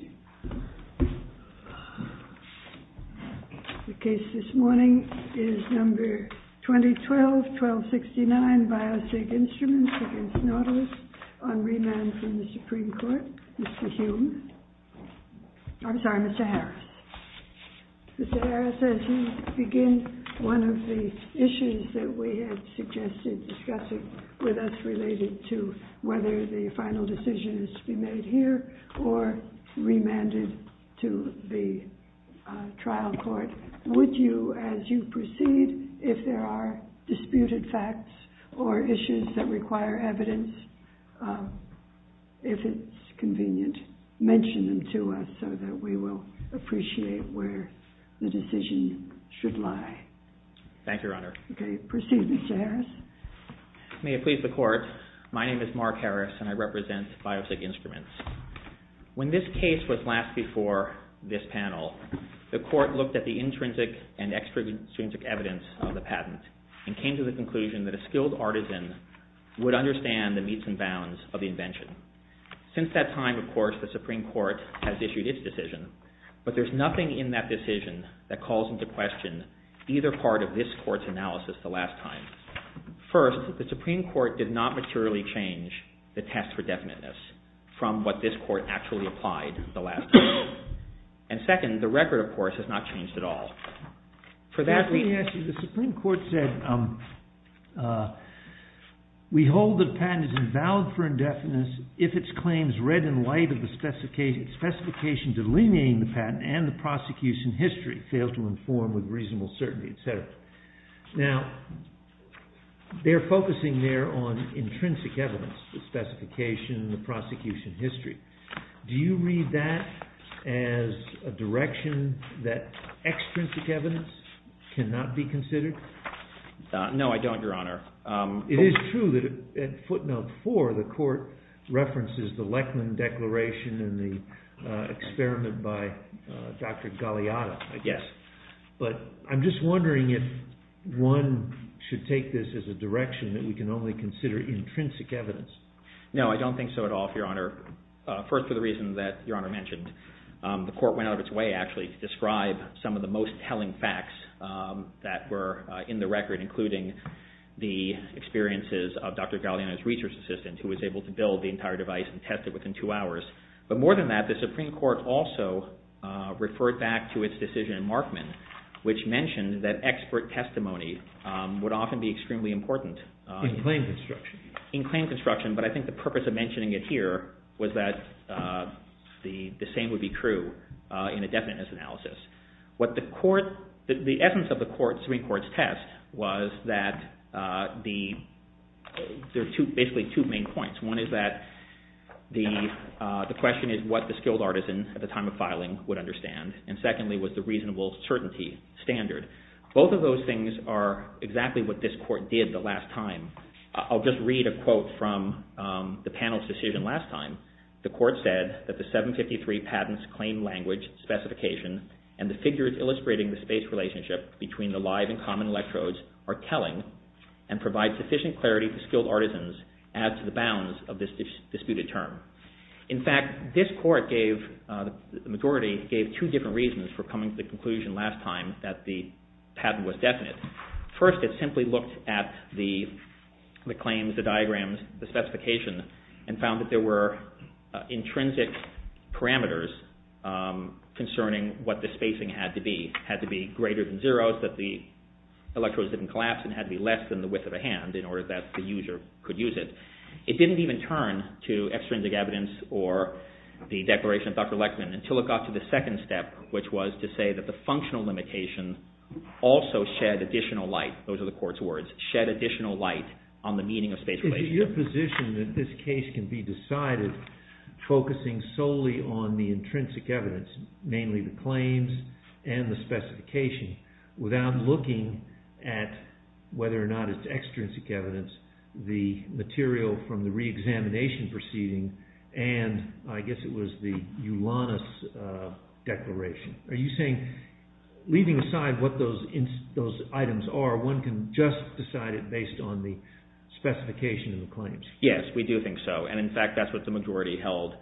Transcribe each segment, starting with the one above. The case this morning is number 2012-1269, Biosig Instruments v. Nautilus, on remand from the Supreme Court. Mr. Hume. I'm sorry, Mr. Harris. Mr. Harris, as you begin, one of the issues that we had suggested discussing with us related to whether the final decision is to be made here or remanded to the trial court, would you, as you proceed, if there are disputed facts or issues that require evidence, if it's convenient, mention them to us so that we will appreciate where the decision should lie. Thank you, Your Honor. Okay. Proceed, Mr. Harris. May it please the Court, my name is Mark Harris and I represent Biosig Instruments. When this case was last before this panel, the Court looked at the intrinsic and extrinsic evidence of the patent and came to the conclusion that a skilled artisan would understand the meets and bounds of the invention. Since that time, of course, the Supreme Court has issued its decision, but there's nothing in that decision that is a major part of this Court's analysis the last time. First, the Supreme Court did not materially change the test for definiteness from what this Court actually applied the last time. And second, the record, of course, has not changed at all. For that we… Let me ask you, the Supreme Court said, we hold that a patent is invalid for indefiniteness if its claims read in light of the specification delineating the patent and the prosecution's history fail to inform with reasonable certainty, etc. Now, they're focusing there on intrinsic evidence, the specification, the prosecution history. Do you read that as a direction that extrinsic evidence cannot be considered? No, I don't, Your Honor. It is true that at footnote four, the Court references the Lekman Declaration and the experiment by Dr. Galeano, I guess. But I'm just wondering if one should take this as a direction that we can only consider intrinsic evidence. No, I don't think so at all, Your Honor. First, for the reason that Your Honor mentioned, the Court went out of its way, actually, to describe some of the research assistant who was able to build the entire device and test it within two hours. But more than that, the Supreme Court also referred back to its decision in Markman, which mentioned that expert testimony would often be extremely important… In claim construction. In claim construction, but I think the purpose of mentioning it here was that the same would be true in a definiteness analysis. The essence of the Supreme Court's test was that there were basically two main points. One is that the question is what the skilled artisan at the time of filing would understand, and secondly was the reasonable certainty standard. Both of those things are exactly what this Court did the last time. I'll just read a quote from the panel's decision last time. The Court said that the 753 patents claim language specification and the figures illustrating the space relationship between the live and bounds of this disputed term. In fact, this Court gave… the majority gave two different reasons for coming to the conclusion last time that the patent was definite. First, it simply looked at the claims, the diagrams, the specification, and found that there were intrinsic parameters concerning what the spacing had to be. It had to be greater than zero so that the electrodes didn't collapse and had to be less than the width of a hand in order that the user could use it. It didn't even turn to extrinsic evidence or the declaration of Dr. Lechtman until it got to the second step, which was to say that the functional limitation also shed additional light, those are the Court's words, shed additional light on the meaning of space relationship. Is it your position that this case can be decided focusing solely on the intrinsic evidence, mainly the claims and the specification, without looking at whether or not it's extrinsic evidence, the material from the reexamination proceeding, and I guess it was the Ulanis declaration? Are you saying, leaving aside what those items are, one can just decide it based on the specification of the claims? Yes, we do think so. And in fact, that's what the majority held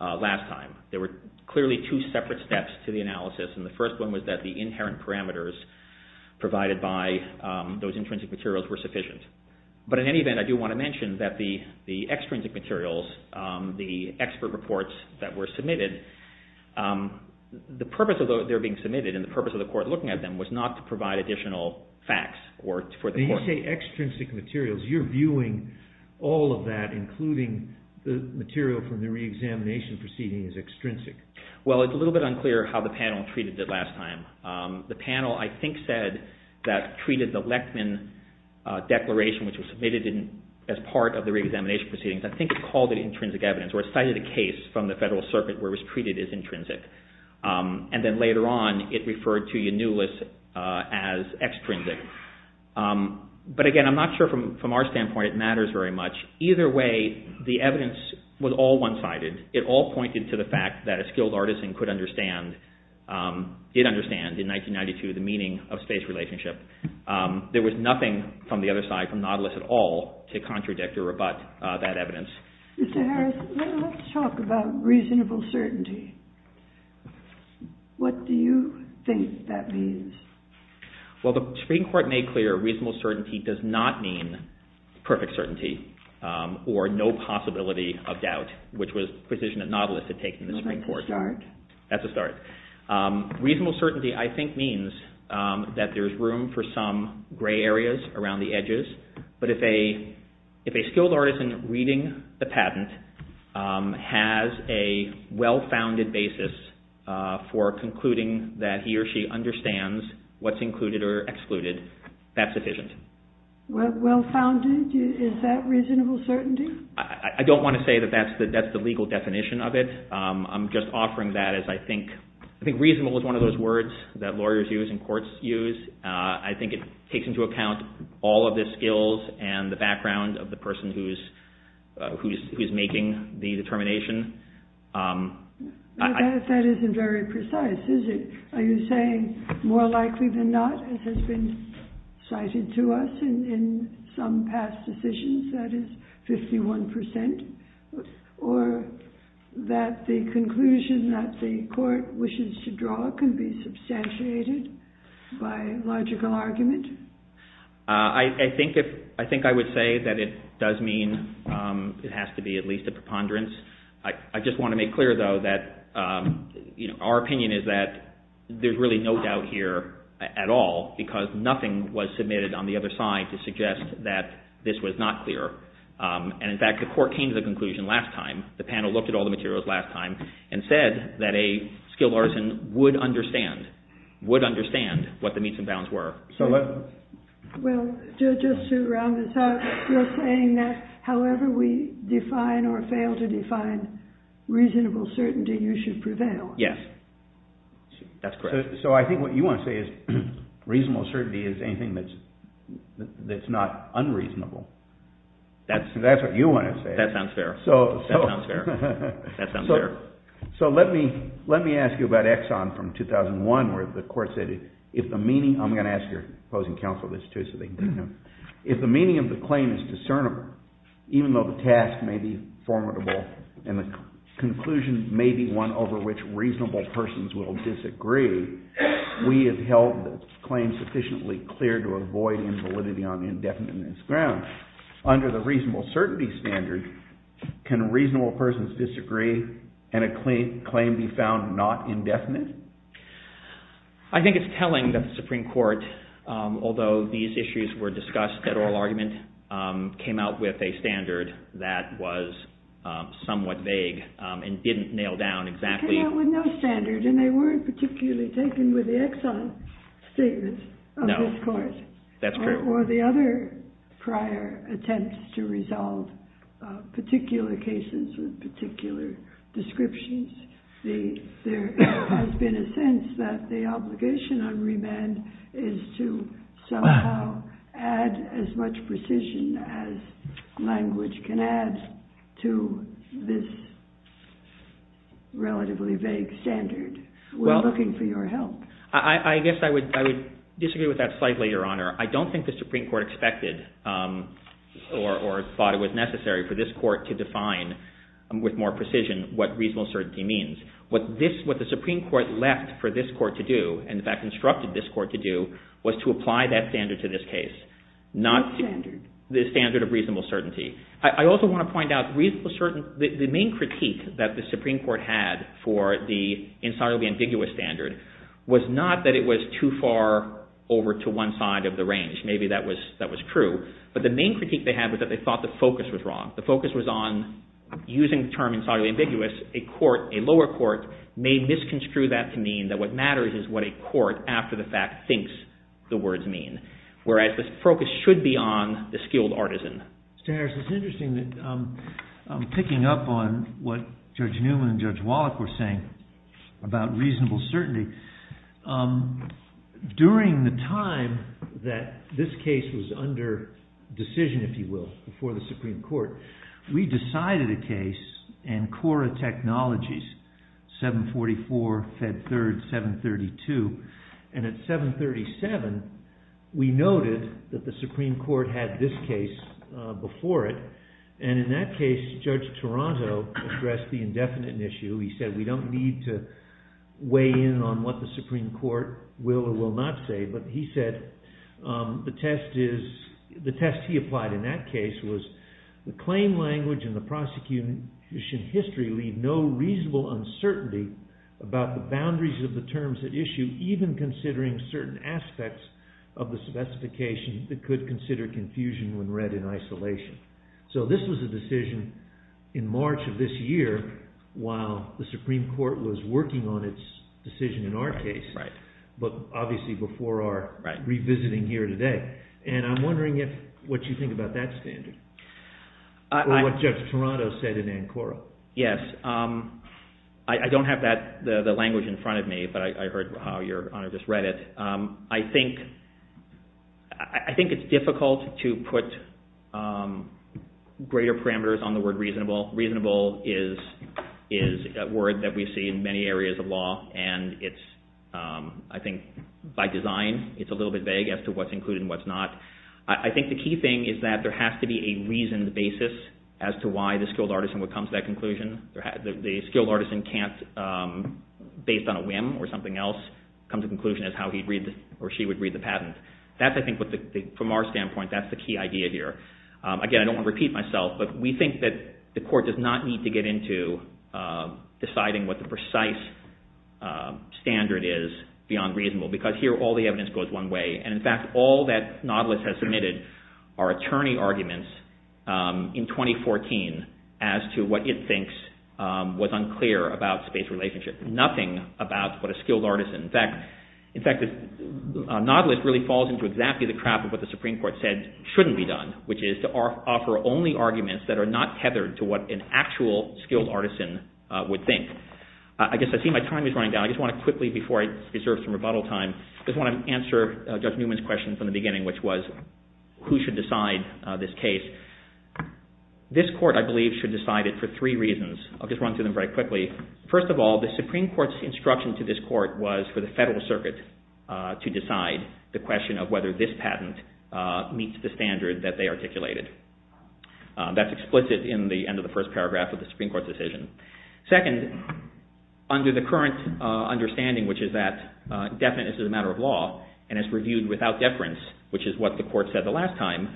last time. There were clearly two separate steps to the analysis, and the first one was that the inherent parameters provided by those intrinsic materials were sufficient. But in any event, I do want to mention that the extrinsic materials, the expert reports that were submitted, the purpose of those that were being submitted and the purpose of the Court looking at them was not to provide additional facts for the Court. When you say extrinsic materials, you're viewing all of that, including the material from the reexamination proceeding as extrinsic. Well, it's a little bit unclear how the panel treated it last time. The panel, I think, said that treated the Lechtman declaration, which was submitted as part of the reexamination proceedings, I think it called it intrinsic evidence, or it cited a case from the Federal Circuit where it was treated as intrinsic. And then later on, it referred to Yanulis as extrinsic. But again, I'm not sure from our standpoint it matters very much. Either way, the evidence was all one-sided. It all pointed to the fact that a skilled artisan could understand, did understand in 1992, the meaning of space relationship. There was nothing from the other side, from Nautilus at all, to contradict or rebut that evidence. Mr. Harris, let's talk about reasonable certainty. What do you think that means? Well, the Supreme Court made clear reasonable certainty does not mean perfect certainty or no possibility of doubt, which was the position that Nautilus had taken in the Supreme Court. That's a start. That's a start. Reasonable certainty, I think, means that there's room for some gray areas around the edges. But if a skilled artisan reading the patent has a well-founded basis for concluding that he or she understands what's included or excluded, that's sufficient. Well-founded? Is that reasonable certainty? I don't want to say that that's the legal definition of it. I'm just offering that as I think reasonable is one of those words that lawyers use and courts use. I think it takes into account all of the skills and the background of the person who's making the determination. That isn't very precise, is it? Are you saying more likely than not, as has been cited to us in some past decisions, that is 51 percent? Or that the conclusion that the court wishes to draw can be substantiated by logical argument? I think I would say that it does mean it has to be at least a preponderance. I just want to make clear, though, that our opinion is that there's really no doubt here at all, because nothing was submitted on the other side to suggest that this was not clear. And in fact, the court came to the conclusion last time, the panel looked at all the materials last time, and said that a skilled artisan would understand what the meets and bounds were. Well, just to round this out, you're saying that however we define or fail to define reasonable certainty, you should prevail. Yes. That's correct. So I think what you want to say is reasonable certainty is anything that's not unreasonable. That's what you want to say. That sounds fair. That sounds fair. So let me ask you about Exxon from 2001, where the court said if the meaning of the claim is discernible, even though the task may be formidable and the conclusion may be one over which reasonable persons will disagree, we have held the claim sufficiently clear to avoid invalidity on indefinite grounds. Under the reasonable certainty standard, can reasonable persons disagree and a claim be found not indefinite? I think it's telling that the Supreme Court, although these issues were discussed at oral argument, came out with a standard that was somewhat vague and didn't nail down exactly. They came out with no standard, and they weren't particularly taken with the Exxon statements of this court. No, that's correct. Well, the other prior attempts to resolve particular cases with particular descriptions, there has been a sense that the obligation on remand is to somehow add as much precision as language can add to this relatively vague standard. We're looking for your help. I guess I would disagree with that slightly, Your Honor. I don't think the Supreme Court expected or thought it was necessary for this court to define with more precision what reasonable certainty means. What the Supreme Court left for this court to do, and in fact instructed this court to do, was to apply that standard to this case. What standard? The standard of reasonable certainty. I also want to point out, the main critique that the Supreme Court had for the incisively ambiguous standard was not that it was too far over to one side of the range. Maybe that was true. But the main critique they had was that they thought the focus was wrong. The focus was on using the term incisively ambiguous, a lower court may misconstrue that to mean that what matters is what a court, after the fact, thinks the words mean, whereas the focus should be on the skilled artisan. Mr. Harris, it's interesting that, picking up on what Judge Newman and Judge Wallach were saying about reasonable certainty, during the time that this case was under decision, if you will, before the Supreme Court, we decided a case in Cora Technologies, 744, Fed Third, 732, and at 737, we noted that the Supreme Court had this case before it, and in that case, Judge Toronto addressed the indefinite issue. He said, we don't need to weigh in on what the Supreme Court will or will not say, but he said, the test he applied in that case was, the claim language and the prosecution history leave no reasonable uncertainty about the boundaries of the terms at issue, even considering certain aspects of the specification that could consider confusion when read in isolation. So this was a decision in March of this year, while the Supreme Court was working on its decision in our case, but obviously before our revisiting here today. And I'm wondering what you think about that Yes, I don't have the language in front of me, but I heard how your Honor just read it. I think it's difficult to put greater parameters on the word reasonable. Reasonable is a word that we see in many areas of law, and I think by design, it's a little bit vague as to what's included and what's not. I think the key thing is that there has to be a reasoned basis as to why the skilled artisan would come to that conclusion. The skilled artisan can't, based on a whim or something else, come to the conclusion as to how he or she would read the patent. From our standpoint, that's the key idea here. Again, I don't want to repeat myself, but we think that the Court does not need to get into deciding what the precise standard is beyond reasonable, because here all the evidence goes one way, and in fact all that Nautilus has submitted are attorney arguments in 2014 as to what it thinks was unclear about space relationship. Nothing about what a skilled artisan. In fact, Nautilus really falls into exactly the trap of what the Supreme Court said shouldn't be done, which is to offer only arguments that are not tethered to what an actual skilled artisan would think. I guess I see my time is running down. I just want to quickly, before I reserve some rebuttal time, I just want to answer Judge Newman's question from the beginning, which was who should decide this case. This Court, I believe, should decide it for three reasons. I'll just run through them very quickly. First of all, the Supreme Court's instruction to this Court was for the Federal Circuit to decide the question of whether this patent meets the standard that they articulated. That's explicit in the end of the first paragraph of the Supreme Court's decision. Second, under the current understanding, which is that definiteness is a matter of law, and it's reviewed without deference, which is what the Court said the last time,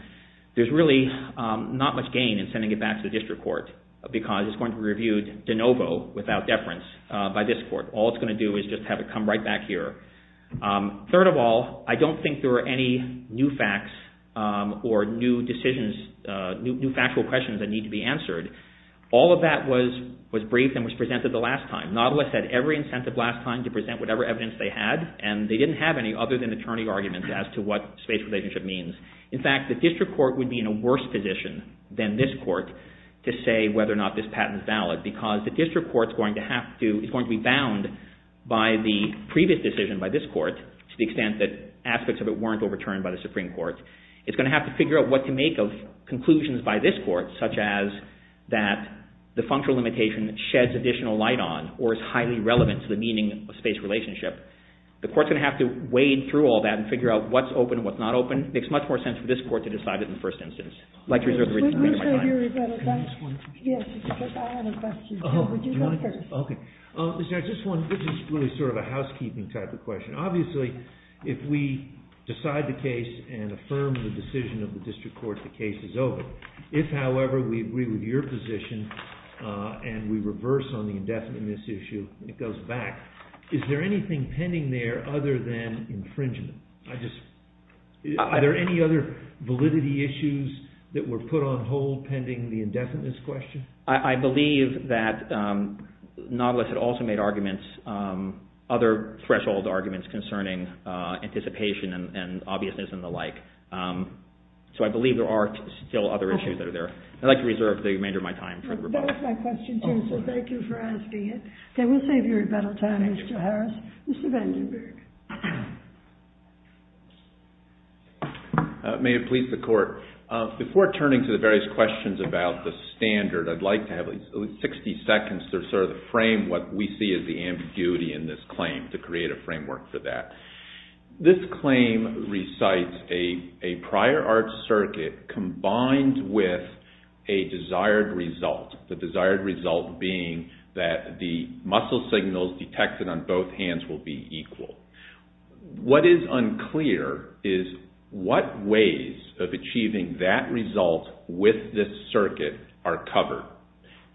there's really not much gain in sending it back to the District Court, because it's going to be reviewed de novo, without deference, by this Court. All it's going to do is just have it come right back here. Third of all, I don't think there are any new facts or new decisions, new factual questions that need to be answered. All of that was briefed and was presented the last time. Nautilus had every incentive last time to present whatever evidence they had, and they didn't have any other-than-attorney arguments as to what space relationship means. In fact, the District Court would be in a worse position than this Court to say whether or not this patent is valid, because the District Court is going to be bound by the previous decision by this Court, to the extent that aspects of it weren't overturned by the Supreme Court. It's going to have to figure out what to make of conclusions by this Court, such as that the functional limitation sheds additional light on, or is highly relevant to the meaning of space relationship. The Court's going to have to wade through all that and figure out what's open and what's not open. It makes much more sense for this Court to decide it in the first instance. I'd like to reserve the remainder of my time. Can I ask one question? Yes. I had a question, too. Would you go first? Okay. This is really sort of a housekeeping type of question. Obviously, if we decide the case and affirm the decision of the District Court, the case is over. If, however, we agree with your position and we reverse on the indefiniteness issue, it goes back. Is there anything pending there other than infringement? Are there any other validity issues that were put on hold pending the indefiniteness question? I believe that Nautilus had also made other threshold arguments concerning anticipation and obviousness and the like. So I believe there are still other issues that are there. I'd like to reserve the remainder of my time for the rebuttal. That was my question, too, so thank you for asking it. Okay, we'll save your rebuttal time, Mr. Harris. Mr. Vandenberg. May it please the Court. Before turning to the various questions about the standard, I'd like to have at least 60 seconds to sort of frame what we see as the ambiguity in this This claim recites a prior art circuit combined with a desired result, the desired result being that the muscle signals detected on both hands will be equal. What is unclear is what ways of achieving that result with this circuit are covered.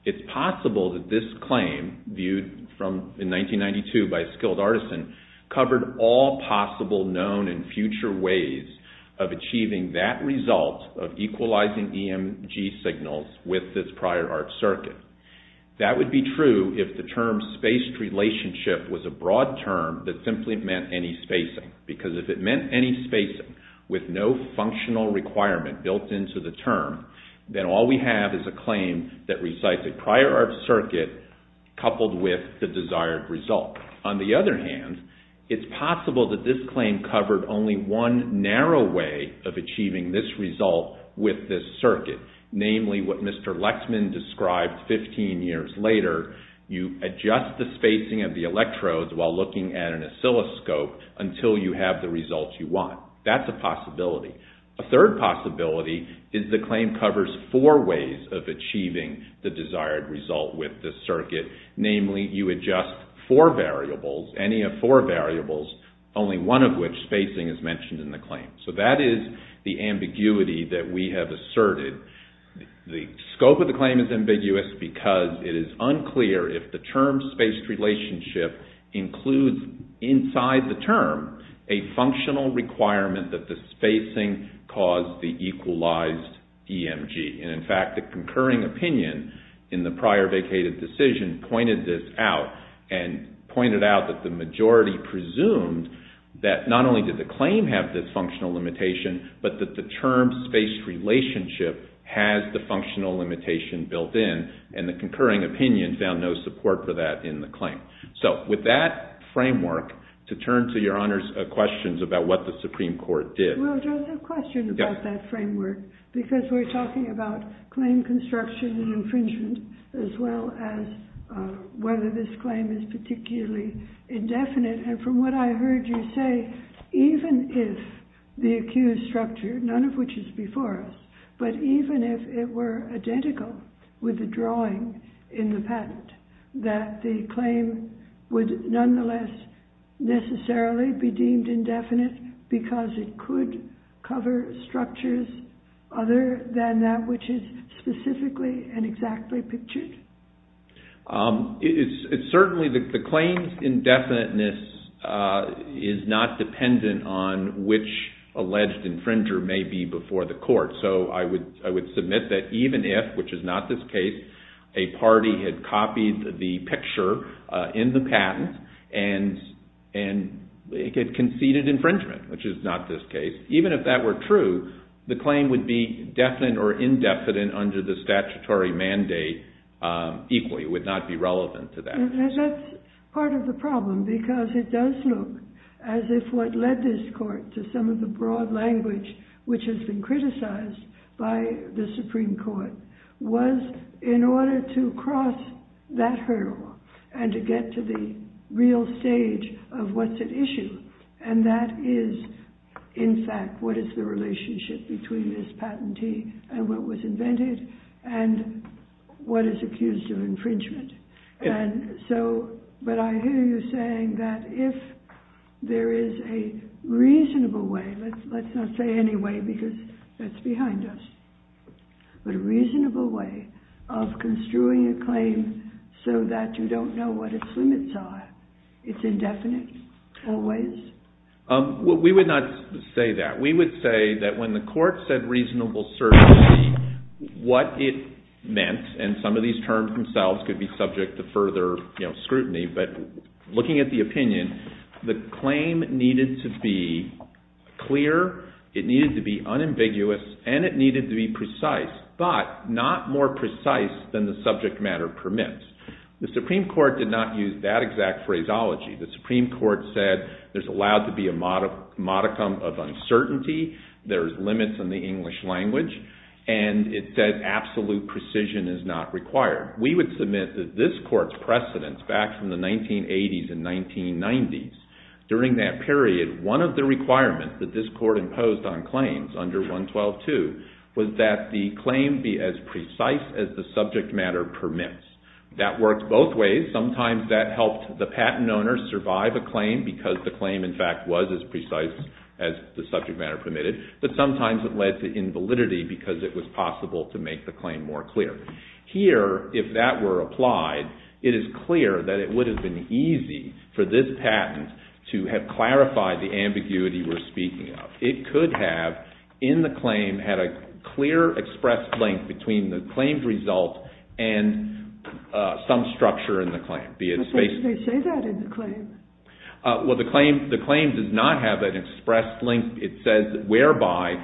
It's possible that this claim viewed in 1992 by a skilled artisan covered all possible known and future ways of achieving that result of equalizing EMG signals with this prior art circuit. That would be true if the term spaced relationship was a broad term that simply meant any spacing, because if it meant any spacing with no functional requirement built into the term, then all we have is a claim that recites a prior art circuit coupled with the desired result. On the other hand, it's possible that this claim covered only one narrow way of achieving this result with this circuit, namely what Mr. Lexman described 15 years later, you adjust the spacing of the electrodes while looking at an oscilloscope until you have the results you want. That's a possibility. A third possibility is the claim covers four ways of achieving the desired result with this circuit, namely you adjust four variables, any of four variables, only one of which spacing is mentioned in the claim. So that is the ambiguity that we have asserted. The scope of the claim is ambiguous because it is unclear if the term spaced relationship includes inside the term a functional requirement that the spacing cause the equalized EMG. And in fact, the concurring opinion in the prior vacated decision pointed this out and pointed out that the majority presumed that not only did the claim have this functional limitation, but that the term spaced relationship has the functional limitation built in, and the concurring opinion found no support for that in the claim. So with that framework, to turn to your Honor's questions about what the Supreme Court did. Well, there's a question about that framework because we're talking about claim construction and infringement as well as whether this claim is particularly indefinite. And from what I heard you say, even if the accused structure, none of which is before us, but even if it were identical with the drawing in the patent, that the claim would nonetheless necessarily be deemed indefinite because it could cover structures other than that which is specifically and exactly pictured? It's certainly the claims indefiniteness is not dependent on which alleged infringer may be before the court. So I would submit that even if, which is not this case, a party had copied the picture in the patent and it conceded infringement, which is not this case, even if that were true, the claim would be definite or indefinite under the statutory mandate equally. It would not be relevant to that. And that's part of the problem because it does look as if what led this court to some of the broad language which has been criticized by the Supreme Court was in order to cross that hurdle and to get to the real stage of what's at issue. And that is, in fact, what is the relationship between this saying that if there is a reasonable way, let's not say any way because that's behind us, but a reasonable way of construing a claim so that you don't know what its limits are, it's indefinite always? We would not say that. We would say that when the court said reasonable certainty, what it meant, and some of these terms themselves could be subject to further scrutiny, but looking at the opinion, the claim needed to be clear, it needed to be unambiguous, and it needed to be precise, but not more precise than the subject matter permits. The Supreme Court did not use that exact phraseology. The Supreme Court said there's allowed to be a modicum of uncertainty, there's limits in the English language, and it said absolute precision is not required. We would submit that this court's precedents back from the 1980s and 1990s, during that period, one of the requirements that this court imposed on claims under 112.2 was that the claim be as precise as the subject matter permits. That worked both ways. Sometimes that helped the patent owner survive a claim because the claim, in fact, was as precise as the subject matter permitted, but sometimes it led to invalidity because it was possible to make the claim more clear. Here, if that were applied, it is clear that it would have been easy for this patent to have clarified the ambiguity we're speaking of. It could have, in the claim, had a clear, expressed link between the claimed result and some structure in the claim. But they say that in the claim. Well, the claim does not have an expressed link. It says, whereby,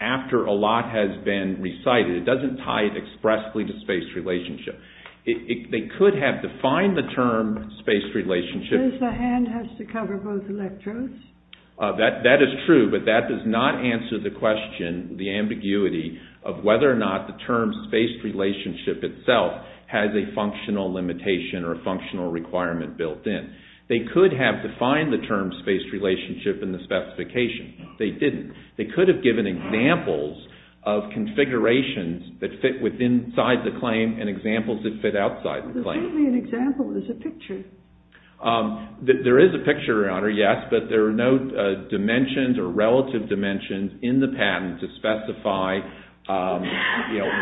after a lot has been recited. It doesn't tie it expressly to space relationship. They could have defined the term space relationship. That is true, but that does not answer the question, the ambiguity, of whether or not the term space relationship itself has a functional limitation or a functional requirement built in. They could have defined the term space relationship in the specification. They didn't. They could have given examples of configurations that fit inside the claim and examples that fit outside the claim. There's only an example. There's a picture. There is a picture, Your Honor, yes, but there are no dimensions or relative dimensions in the patent to specify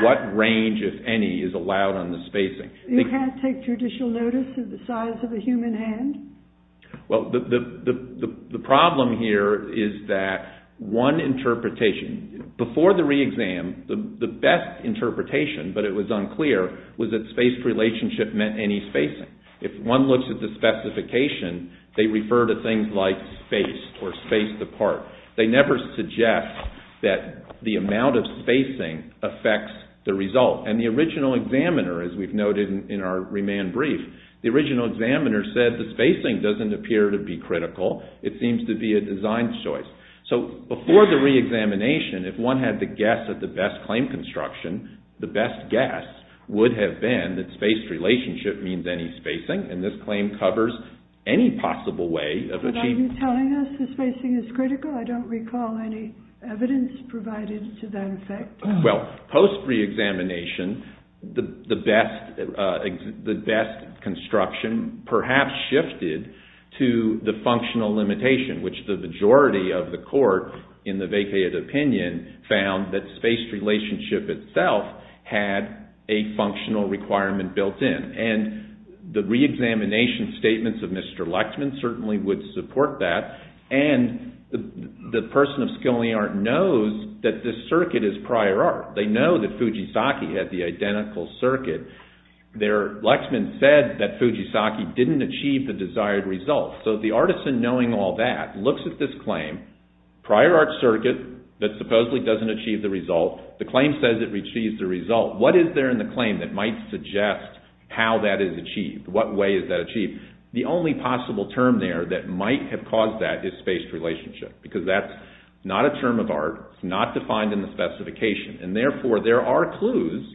what range, if any, is allowed on the spacing. You can't take judicial notice of the size of a human hand? Well, the problem here is that one interpretation, before the re-exam, the best interpretation, but it was unclear, was that space relationship meant any spacing. If one looks at the specification, they refer to things like spaced or spaced apart. They never suggest that the amount of spacing affects the result. And the original examiner, as we've noted in our remand brief, the original examiner said the spacing doesn't appear to be critical. It seems to be a design choice. So, before the re-examination, if one had to guess at the best claim construction, the best guess would have been that spaced relationship means any spacing, and this claim covers any possible way of achieving… But are you telling us the spacing is critical? I don't recall any evidence provided to that effect. Well, post re-examination, the best construction perhaps shifted to the functional limitation, which the majority of the court, in the vacated opinion, found that spaced relationship itself had a functional requirement built in. And the re-examination statements of Mr. Lectman certainly would support that. And the person of skill in the art knows that this circuit is prior art. They know that Fujisaki had the identical circuit. Lectman said that Fujisaki didn't achieve the desired result. So, the artisan, knowing all that, looks at this claim, prior art circuit that supposedly doesn't achieve the result. The claim says it achieves the result. What is there in the claim that might suggest how that is achieved? What way is that achieved? The only possible term there that might have caused that is spaced relationship, because that's not a term of art. It's not defined in the specification. And therefore, there are clues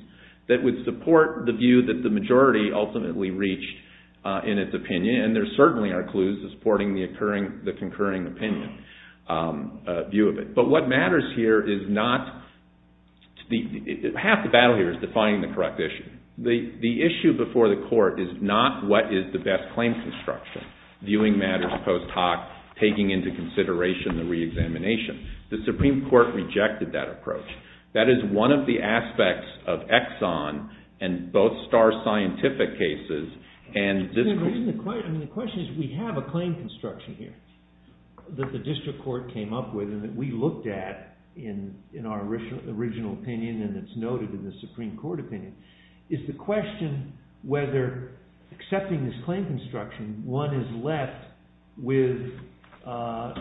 that would support the view that the majority ultimately reached in its opinion, and there certainly are clues supporting the concurring opinion view of it. But what matters here is not… Half the battle here is defining the correct issue. The issue before the court is not what is the best claim construction, viewing matters post hoc, taking into consideration the re-examination. The Supreme Court rejected that approach. That is one of the aspects of Exxon and both star scientific cases. The question is we have a claim construction here that the district court came up with and that we looked at in our original opinion, and it's noted in the Supreme Court opinion, is the question whether accepting this claim construction, one is left with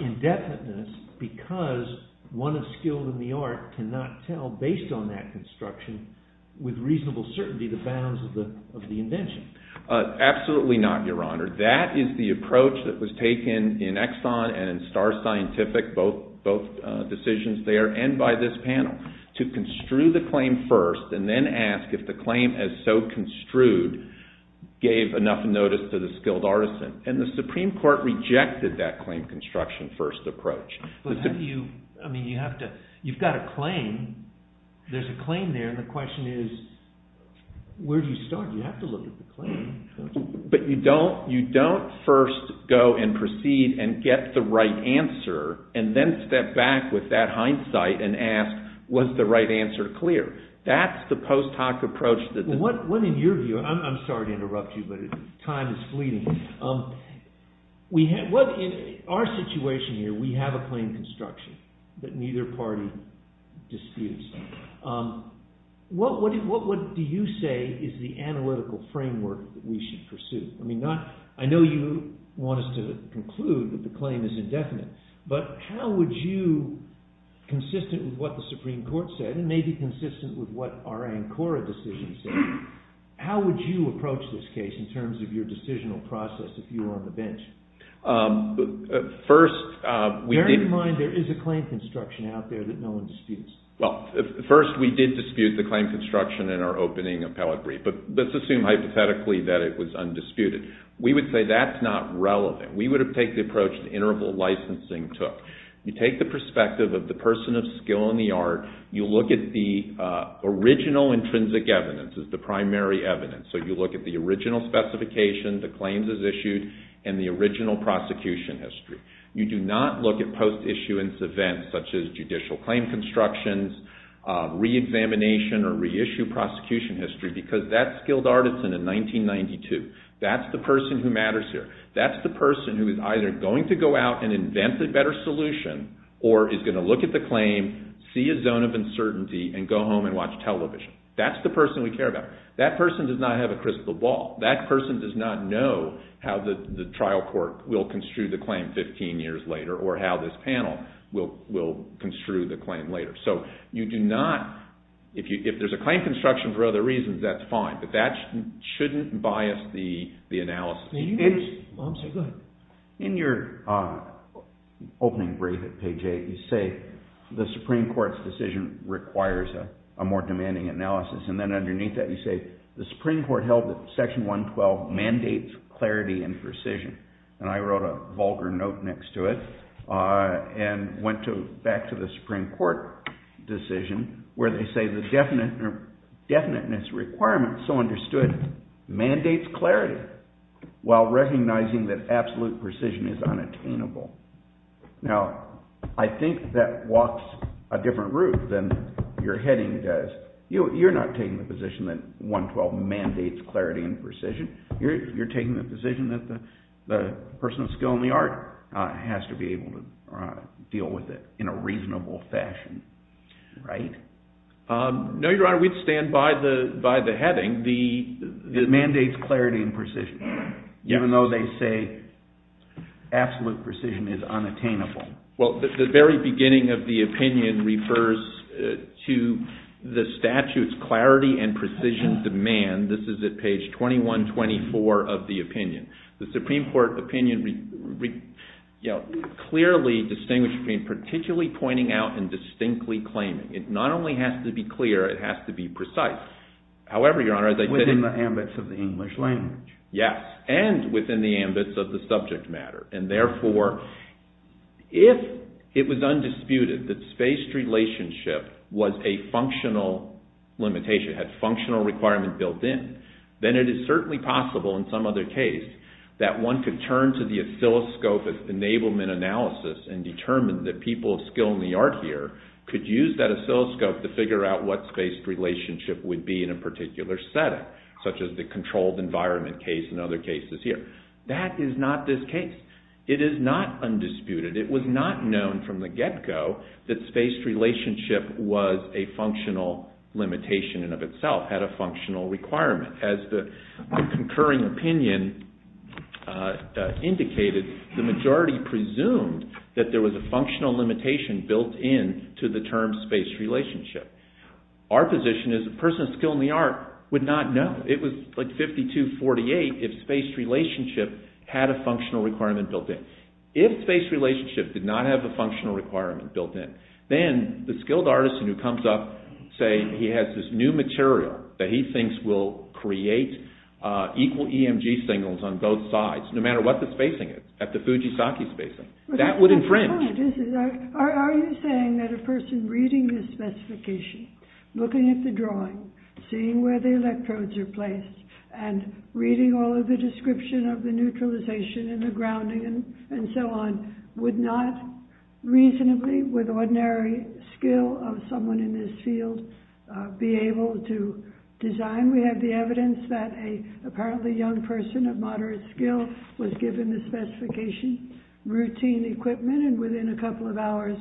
indefiniteness because one is skilled in the art, cannot tell based on that construction with reasonable certainty the bounds of the invention. Absolutely not, Your Honor. That is the approach that was taken in Exxon and in star scientific, both decisions there and by this panel, to construe the claim first and then ask if the claim as so construed gave enough notice to the skilled artisan. And the Supreme Court rejected that claim construction first approach. But how do you, I mean you have to, you've got a claim, there's a claim there, and the question is where do you start? You have to look at the claim. But you don't first go and proceed and get the right answer and then step back with that hindsight and ask was the right answer clear? That's the post hoc approach that the- What in your view, I'm sorry to interrupt you, but time is fleeting. In our situation here, we have a claim construction that neither party disputes. What do you say is the analytical framework that we should pursue? I mean, I know you want us to conclude that the claim is indefinite, but how would you, consistent with what the Supreme Court said, and maybe consistent with what our ANCORA decision said, how would you approach this case in terms of your decisional process if you were on the bench? First- Bear in mind there is a claim construction out there that no one disputes. Well, first we did dispute the claim construction in our opening appellate brief, but let's assume hypothetically that it was undisputed. We would say that's not relevant. We would take the approach the interval licensing took. You take the perspective of the person of skill and the art. You look at the original intrinsic evidence as the primary evidence. So you look at the original specification, the claims as issued, and the original prosecution history. You do not look at post-issuance events such as judicial claim constructions, re-examination or re-issue prosecution history because that's skilled artisan in 1992. That's the person who matters here. That's the person who is either going to go out and invent a better solution or is going to look at the claim, see a zone of uncertainty, and go home and watch television. That's the person we care about. That person does not have a crystal ball. That person does not know how the trial court will construe the claim 15 years later or how this panel will construe the claim later. So you do not, if there's a claim construction for other reasons, that's fine, but that shouldn't bias the analysis. In your opening brief at page 8, you say the Supreme Court's decision requires a more demanding analysis, and then underneath that you say the Supreme Court held that Section 112 mandates clarity and precision. And I wrote a vulgar note next to it and went back to the Supreme Court decision where they say the definiteness requirement so understood mandates clarity while recognizing that absolute precision is unattainable. Now, I think that walks a different route than your heading does. You're not taking the position that 112 mandates clarity and precision. You're taking the position that the person of skill in the art has to be able to deal with it in a reasonable fashion, right? No, Your Honor, we'd stand by the heading that mandates clarity and precision, even though they say absolute precision is unattainable. Well, the very beginning of the opinion refers to the statute's clarity and precision demand. This is at page 2124 of the opinion. The Supreme Court opinion clearly distinguishes between particularly pointing out and distinctly claiming. It not only has to be clear, it has to be precise. However, Your Honor, as I said— Within the ambits of the English language. Yes, and within the ambits of the subject matter. And therefore, if it was undisputed that spaced relationship was a functional limitation, had functional requirement built in, then it is certainly possible in some other case that one could turn to the oscilloscope as enablement analysis and determine that people of skill in the art here could use that oscilloscope to figure out what spaced relationship would be in a particular setting, such as the controlled environment case and other cases here. That is not this case. It is not undisputed. It was not known from the get-go that spaced relationship was a functional limitation in and of itself, had a functional requirement. As the concurring opinion indicated, the majority presumed that there was a functional limitation built in to the term spaced relationship. Our position is the person of skill in the art would not know. It was like 52-48 if spaced relationship had a functional requirement built in. If spaced relationship did not have a functional requirement built in, then the skilled artisan who comes up saying he has this new material that he thinks will create equal EMG signals on both sides, no matter what the spacing is, at the Fujisaki spacing, that would infringe. Are you saying that a person reading this specification, looking at the drawing, seeing where the electrodes are placed, and reading all of the description of the neutralization and the grounding and so on, would not reasonably, with ordinary skill of someone in this field, be able to design? We have the evidence that an apparently young person of moderate skill was given this specification. Routine equipment, and within a couple of hours,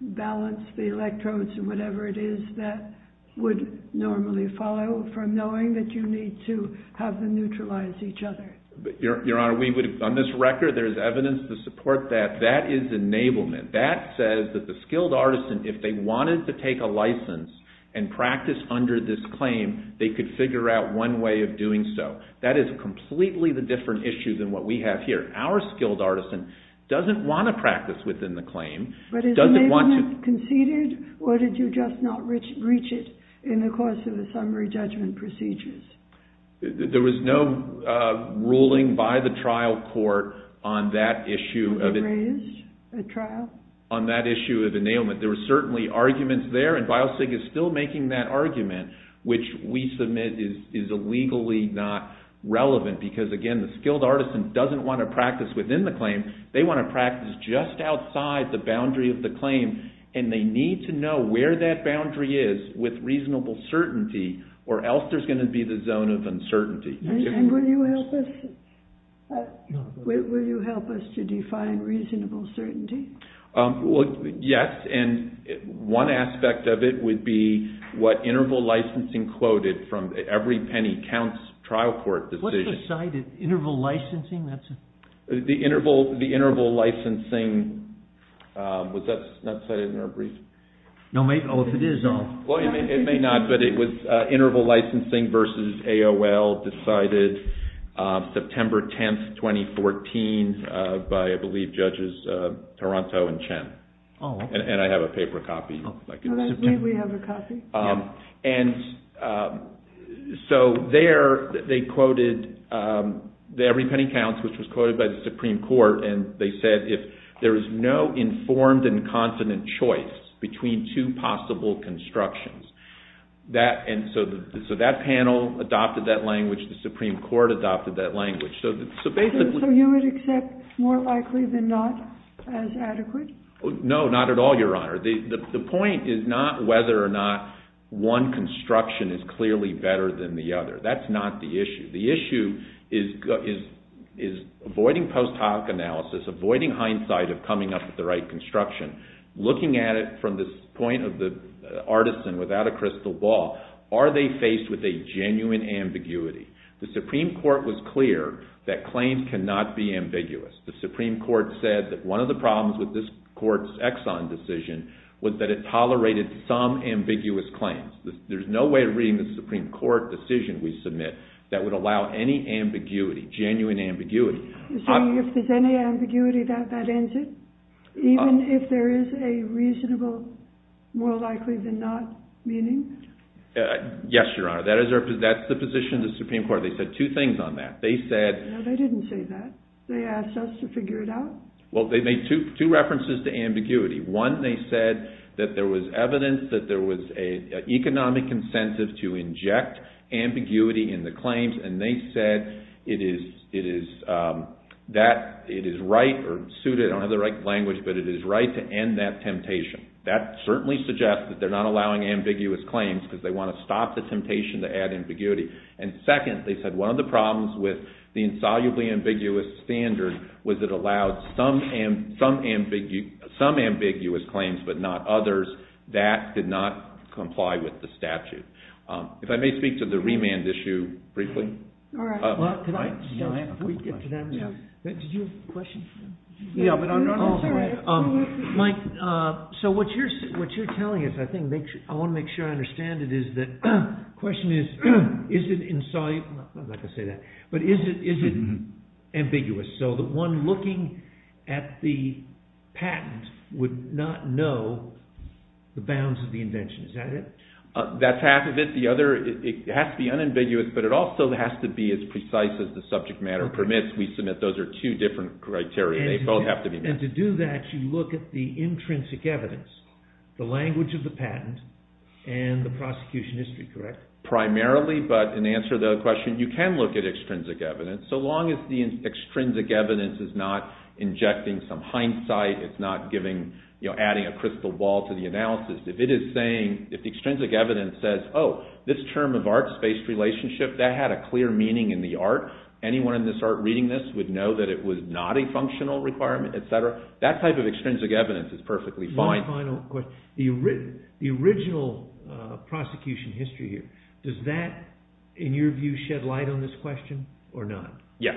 balance the electrodes and whatever it is that would normally follow from knowing that you need to have them neutralize each other. Your Honor, on this record there is evidence to support that. That is enablement. That says that the skilled artisan, if they wanted to take a license and practice under this claim, they could figure out one way of doing so. That is completely the different issue than what we have here. Our skilled artisan doesn't want to practice within the claim. But is enablement conceded, or did you just not reach it in the course of the summary judgment procedures? There was no ruling by the trial court on that issue. Was it raised at trial? On that issue of enablement. There were certainly arguments there, and BIOSIG is still making that argument, which we submit is illegally not relevant. Because again, the skilled artisan doesn't want to practice within the claim. They want to practice just outside the boundary of the claim, and they need to know where that boundary is with reasonable certainty, or else there's going to be the zone of uncertainty. And will you help us to define reasonable certainty? Yes, and one aspect of it would be what interval licensing quoted from every penny counts trial court decision. What's the site? Interval licensing? The interval licensing, was that cited in our brief? It may not, but it was interval licensing versus AOL, decided September 10th, 2014 by, I believe, judges Toronto and Chen. And I have a paper copy. May we have a copy? And so there they quoted every penny counts, which was quoted by the Supreme Court, and they said if there is no informed and confident choice between two possible constructions. So that panel adopted that language. The Supreme Court adopted that language. So you would accept more likely than not as adequate? No, not at all, Your Honor. The point is not whether or not one construction is clearly better than the other. That's not the issue. The issue is avoiding post hoc analysis, avoiding hindsight of coming up with the right construction, looking at it from this point of the artisan without a crystal ball, are they faced with a genuine ambiguity? The Supreme Court was clear that claims cannot be ambiguous. The Supreme Court said that one of the problems with this court's Exxon decision was that it tolerated some ambiguous claims. There's no way of reading the Supreme Court decision we submit that would allow any ambiguity, genuine ambiguity. So if there's any ambiguity, that ends it? Even if there is a reasonable, more likely than not, meaning? Yes, Your Honor. That's the position of the Supreme Court. They said two things on that. No, they didn't say that. They asked us to figure it out. Well, they made two references to ambiguity. One, they said that there was evidence that there was an economic incentive to inject ambiguity in the claims, and they said it is right or suited, I don't have the right language, but it is right to end that temptation. That certainly suggests that they're not allowing ambiguous claims because they want to stop the temptation to add ambiguity. And second, they said one of the problems with the insolubly ambiguous standard was it allowed some ambiguous claims but not others. That did not comply with the statute. If I may speak to the remand issue briefly. So what you're telling us, I want to make sure I understand it, is that the question is, is it ambiguous? So the one looking at the patent would not know the bounds of the invention. Is that it? That's half of it. The other, it has to be unambiguous, but it also has to be as precise as the subject matter permits we submit. Those are two different criteria. They both have to be met. And to do that, you look at the intrinsic evidence, the language of the patent, and the prosecution history, correct? Primarily, but in answer to the question, you can look at extrinsic evidence, so long as the extrinsic evidence is not injecting some hindsight, it's not adding a crystal ball to the analysis. If it is saying, if the extrinsic evidence says, oh, this term of art, spaced relationship, that had a clear meaning in the art, anyone in this art reading this would know that it was not a functional requirement, et cetera, that type of extrinsic evidence is perfectly fine. One final question. The original prosecution history here, does that, in your view, shed light on this question or not? Yes.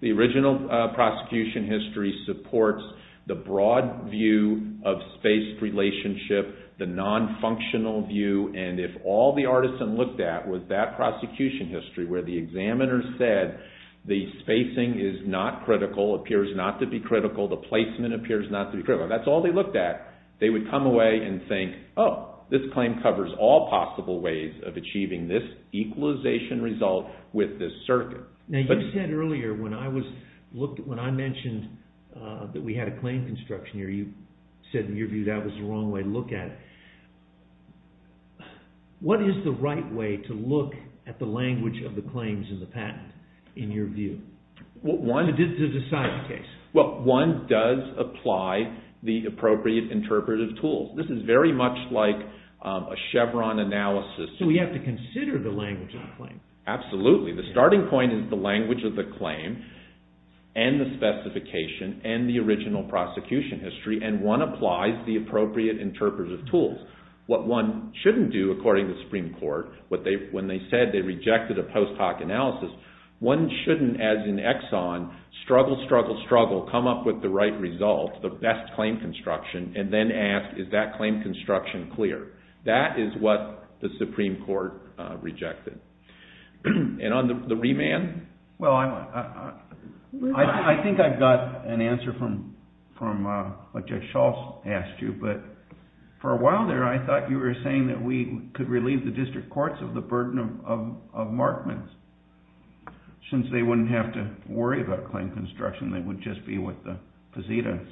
The original prosecution history supports the broad view of spaced relationship the non-functional view, and if all the artisan looked at was that prosecution history, where the examiner said the spacing is not critical, appears not to be critical, the placement appears not to be critical, that's all they looked at, they would come away and think, oh, this claim covers all possible ways of achieving this equalization result with this circuit. Now you said earlier, when I mentioned that we had a claim construction here, you said, in your view, that was the wrong way to look at it. What is the right way to look at the language of the claims in the patent, in your view, to decide the case? Well, one does apply the appropriate interpretive tools. This is very much like a Chevron analysis. So we have to consider the language of the claim. Absolutely. The starting point is the language of the claim and the specification and the original prosecution history, and one applies the appropriate interpretive tools. What one shouldn't do, according to the Supreme Court, when they said they rejected a post hoc analysis, one shouldn't, as in Exxon, struggle, struggle, struggle, come up with the right result, the best claim construction, and then ask, is that claim construction clear? That is what the Supreme Court rejected. And on the remand? Well, I think I've got an answer from what Jack Schultz asked you, but for a while there I thought you were saying that we could relieve the district courts of the burden of markments, since they wouldn't have to worry about claim construction, they would just be with the facitas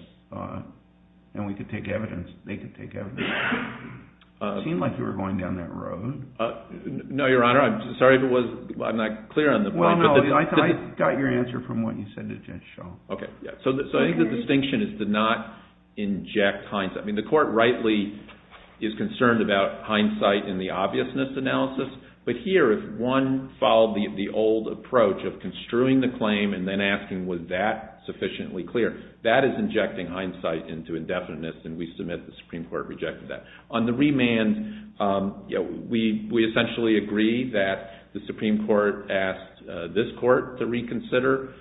and we could take evidence, they could take evidence. It seemed like you were going down that road. No, Your Honor, I'm sorry if I'm not clear on the point. Well, no, I got your answer from what you said to Jack Schultz. Okay. So I think the distinction is to not inject hindsight. I mean, the Court rightly is concerned about hindsight in the obviousness analysis, but here if one followed the old approach of construing the claim and then asking was that sufficiently clear, that is injecting hindsight into indefiniteness, and we submit the Supreme Court rejected that. On the remand, we essentially agree that the Supreme Court asked this court to reconsider.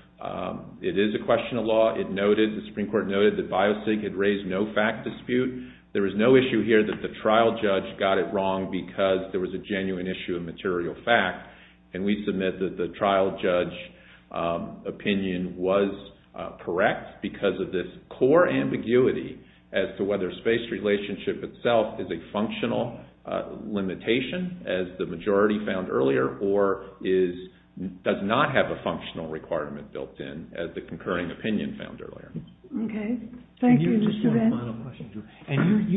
It is a question of law. The Supreme Court noted that BIOCIG had raised no fact dispute. There was no issue here that the trial judge got it wrong because there was a genuine issue of material fact, and we submit that the trial judge opinion was correct because of this core ambiguity as to whether space relationship itself is a functional limitation, as the majority found earlier, or does not have a functional requirement built in, as the concurring opinion found earlier. Okay. Thank you, Mr. Venn. And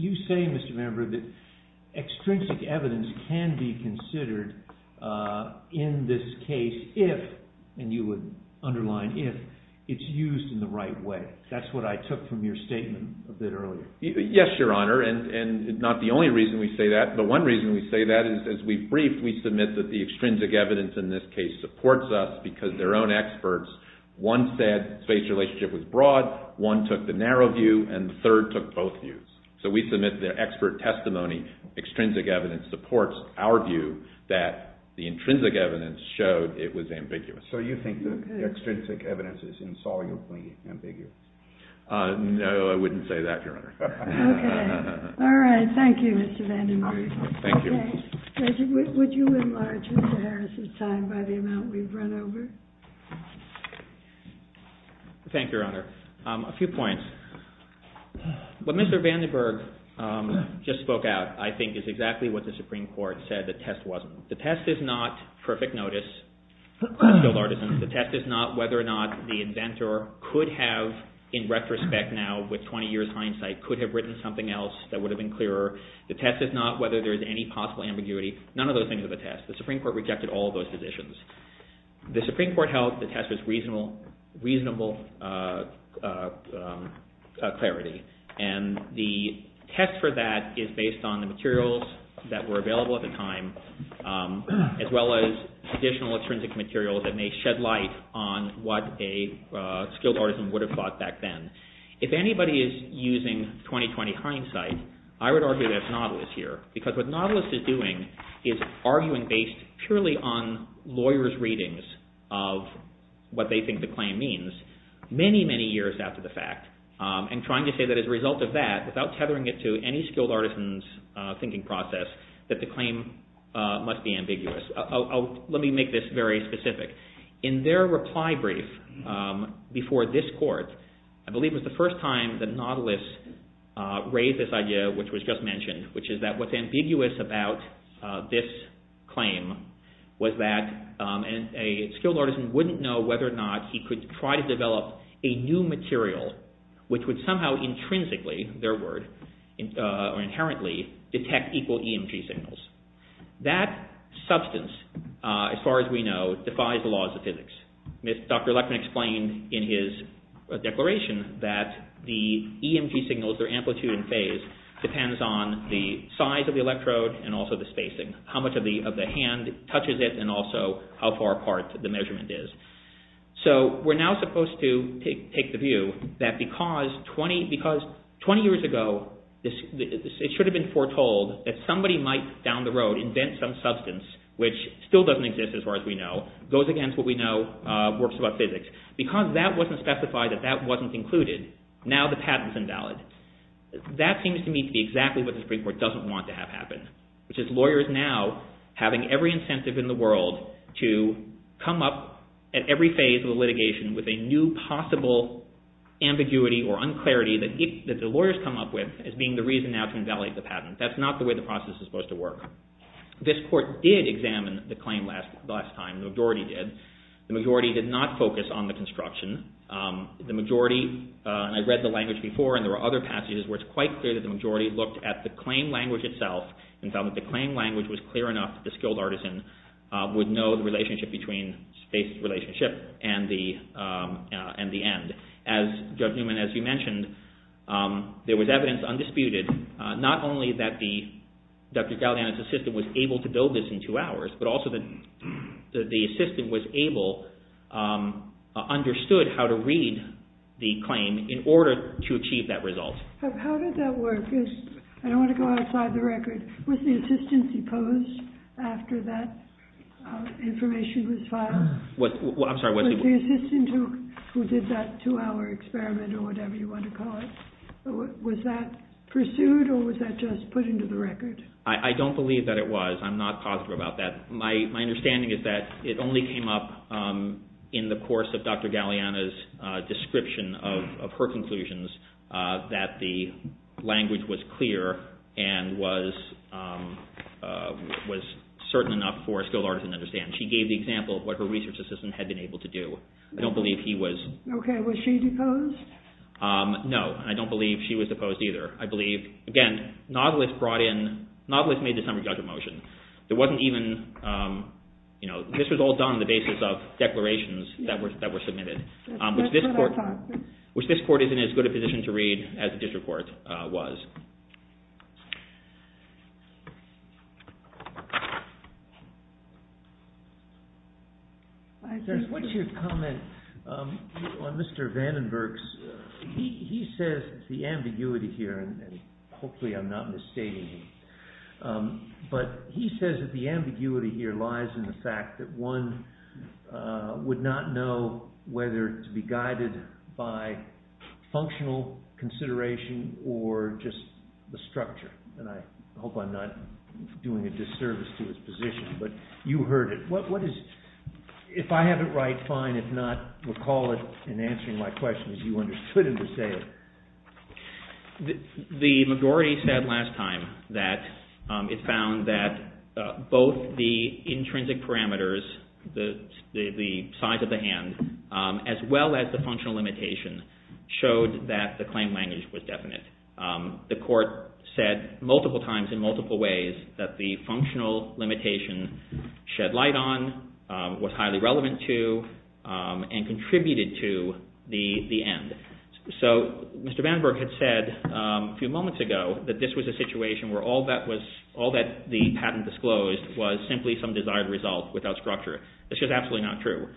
you say, Mr. Member, that extrinsic evidence can be considered in this case if, and you would underline if, it's used in the right way. That's what I took from your statement a bit earlier. Yes, Your Honor, and not the only reason we say that, but one reason we say that is as we brief, we submit that the extrinsic evidence in this case supports us because their own experts, one said space relationship was broad, one took the narrow view, and the third took both views. So we submit the expert testimony, extrinsic evidence supports our view that the intrinsic evidence showed it was ambiguous. So you think the extrinsic evidence is insolubly ambiguous? No, I wouldn't say that, Your Honor. Okay. All right. Thank you, Mr. Vandenberg. Thank you. Would you enlarge Mr. Harris' time by the amount we've run over? Thank you, Your Honor. A few points. What Mr. Vandenberg just spoke out, I think, is exactly what the Supreme Court said the test wasn't. The test is not perfect notice. The test is not whether or not the inventor could have, in retrospect now with 20 years hindsight, could have written something else that would have been clearer. The test is not whether there is any possible ambiguity. None of those things are the test. The Supreme Court rejected all of those positions. The Supreme Court held the test was reasonable clarity, and the test for that is based on the materials that were available at the time. It's not based on scientific material that may shed light on what a skilled artisan would have thought back then. If anybody is using 20-20 hindsight, I would argue that it's Nautilus here, because what Nautilus is doing is arguing based purely on lawyers' readings of what they think the claim means many, many years after the fact, and trying to say that as a result of that, without tethering it to any skilled artisan's thinking process, that the claim must be ambiguous. Let me make this very specific. In their reply brief before this court, I believe it was the first time that Nautilus raised this idea, which was just mentioned, which is that what's ambiguous about this claim was that a skilled artisan wouldn't know whether or not he could try to develop a new material, which would somehow intrinsically, their word, or inherently detect equal EMG signals. That substance, as far as we know, defies the laws of physics. Dr. Lechtman explained in his declaration that the EMG signals, their amplitude and phase, depends on the size of the electrode and also the spacing, how much of the hand touches it, and also how far apart the measurement is. So we're now supposed to take the view that because 20 years ago, it should have been foretold that somebody might, down the road, invent some substance, which still doesn't exist as far as we know, goes against what we know works about physics. Because that wasn't specified, that that wasn't included, now the patent's invalid. That seems to me to be exactly what the Supreme Court doesn't want to have happen, which is lawyers now having every incentive in the world to come up at every phase of the litigation with a new possible ambiguity or unclarity that the lawyers come up with as being the reason now to invalidate the patent. That's not the way the process is supposed to work. This court did examine the claim last time, the majority did. The majority did not focus on the construction. The majority, and I read the language before, and there were other passages where it's quite clear that the majority looked at the claim language itself and found that the claim language was clear enough that the skilled artisan would know the relationship between space relationship and the end. And as Judge Newman, as you mentioned, there was evidence, undisputed, not only that Dr. Galliano's assistant was able to build this in two hours, but also that the assistant was able, understood how to read the claim in order to achieve that result. How did that work? I don't want to go outside the record. Was the assistant supposed, after that information was filed, was the assistant who did that two-hour experiment or whatever you want to call it, was that pursued or was that just put into the record? I don't believe that it was. I'm not positive about that. My understanding is that it only came up in the course of Dr. Galliano's description of her conclusions that the language was clear and was certain enough for a skilled artisan to understand. She gave the example of what her research assistant had been able to do. I don't believe he was. Okay, was she deposed? No, I don't believe she was deposed either. I believe, again, Nautilus brought in, Nautilus made the summary judgment motion. There wasn't even, you know, this was all done on the basis of declarations that were submitted, which this court is in as good a position to read as the district court was. What's your comment on Mr. Vandenberg's, he says the ambiguity here, and hopefully I'm not misstating, but he says that the ambiguity here lies in the fact that one would not know whether to be guided by functional consideration or just the structure. And I hope I'm not doing a disservice to his position, but you heard it. If I have it right, fine. If not, recall it in answering my question as you understood it to say it. The majority said last time that it found that both the intrinsic parameters, the size of the hand, as well as the functional limitation, showed that the claim language was definite. The court said multiple times in multiple ways that the functional limitation shed light on, was highly relevant to, and contributed to the end. So Mr. Vandenberg had said a few moments ago that this was a situation where all that the patent disclosed was simply some desired result without structure. That's just absolutely not true.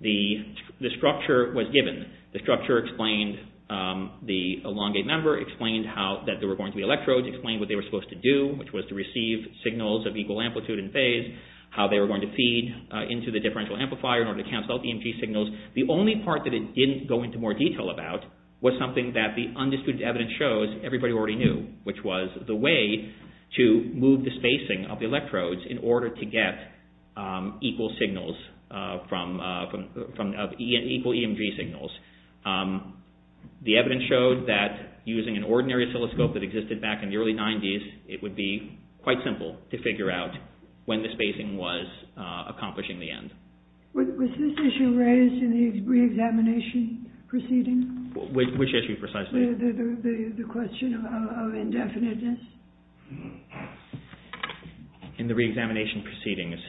The structure was given. The structure explained the elongate member, explained that there were going to be electrodes, explained what they were supposed to do, which was to receive signals of equal amplitude and phase, how they were going to feed into the differential amplifier in order to cancel out EMG signals. The only part that it didn't go into more detail about was something that the undisputed evidence shows everybody already knew, which was the way to move the spacing of the electrodes in order to get equal signals from, equal EMG signals. The evidence showed that using an ordinary oscilloscope that existed back in the early 90s, it would be quite simple to figure out when the spacing was accomplishing the end. Was this issue raised in the re-examination proceedings? Which issue precisely? The question of indefiniteness. In the re-examination proceedings.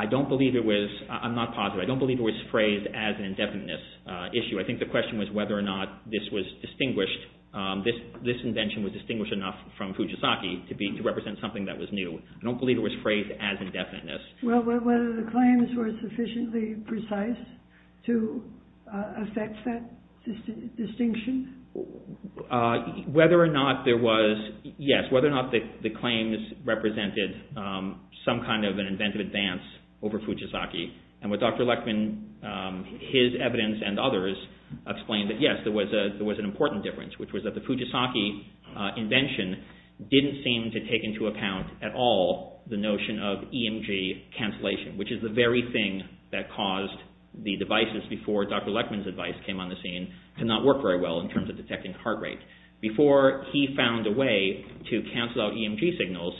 I don't believe it was, I'm not positive, I don't believe it was phrased as an indefiniteness issue. I think the question was whether or not this was distinguished, this invention was distinguished enough from Fujisaki to represent something that was new. I don't believe it was phrased as indefiniteness. Well, whether the claims were sufficiently precise to affect that distinction? Whether or not there was, yes, whether or not the claims represented some kind of an inventive advance over Fujisaki. And with Dr. Lechtman, his evidence and others explained that yes, there was an important difference, which was that the Fujisaki invention didn't seem to take into account at all the notion of EMG cancellation, which is the very thing that caused the devices before Dr. Lechtman's advice came on the scene to not work very well in terms of detecting heart rate. Before he found a way to cancel out EMG signals,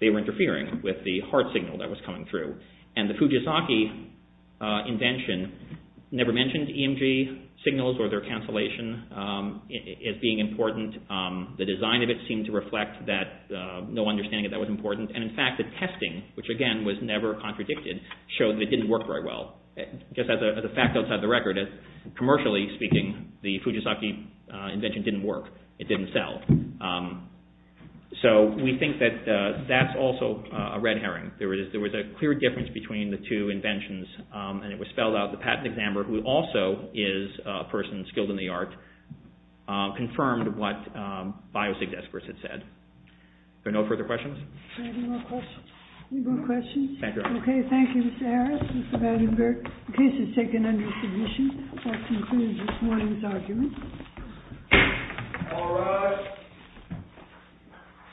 they were interfering with the heart signal that was coming through. And the Fujisaki invention never mentioned EMG signals or their cancellation as being important. The design of it seemed to reflect that no understanding of that was important. And in fact, the testing, which again was never contradicted, showed that it didn't work very well. Just as a fact outside the record, commercially speaking, the Fujisaki invention didn't work. It didn't sell. So we think that that's also a red herring. There was a clear difference between the two inventions, and it was spelled out, the patent examiner, who also is a person skilled in the art, confirmed what biopsy experts had said. Are there no further questions? Any more questions? Thank you. Okay, thank you, Mr. Harris, Mr. Badenberg. The case is taken under submission. That concludes this morning's argument. All rise.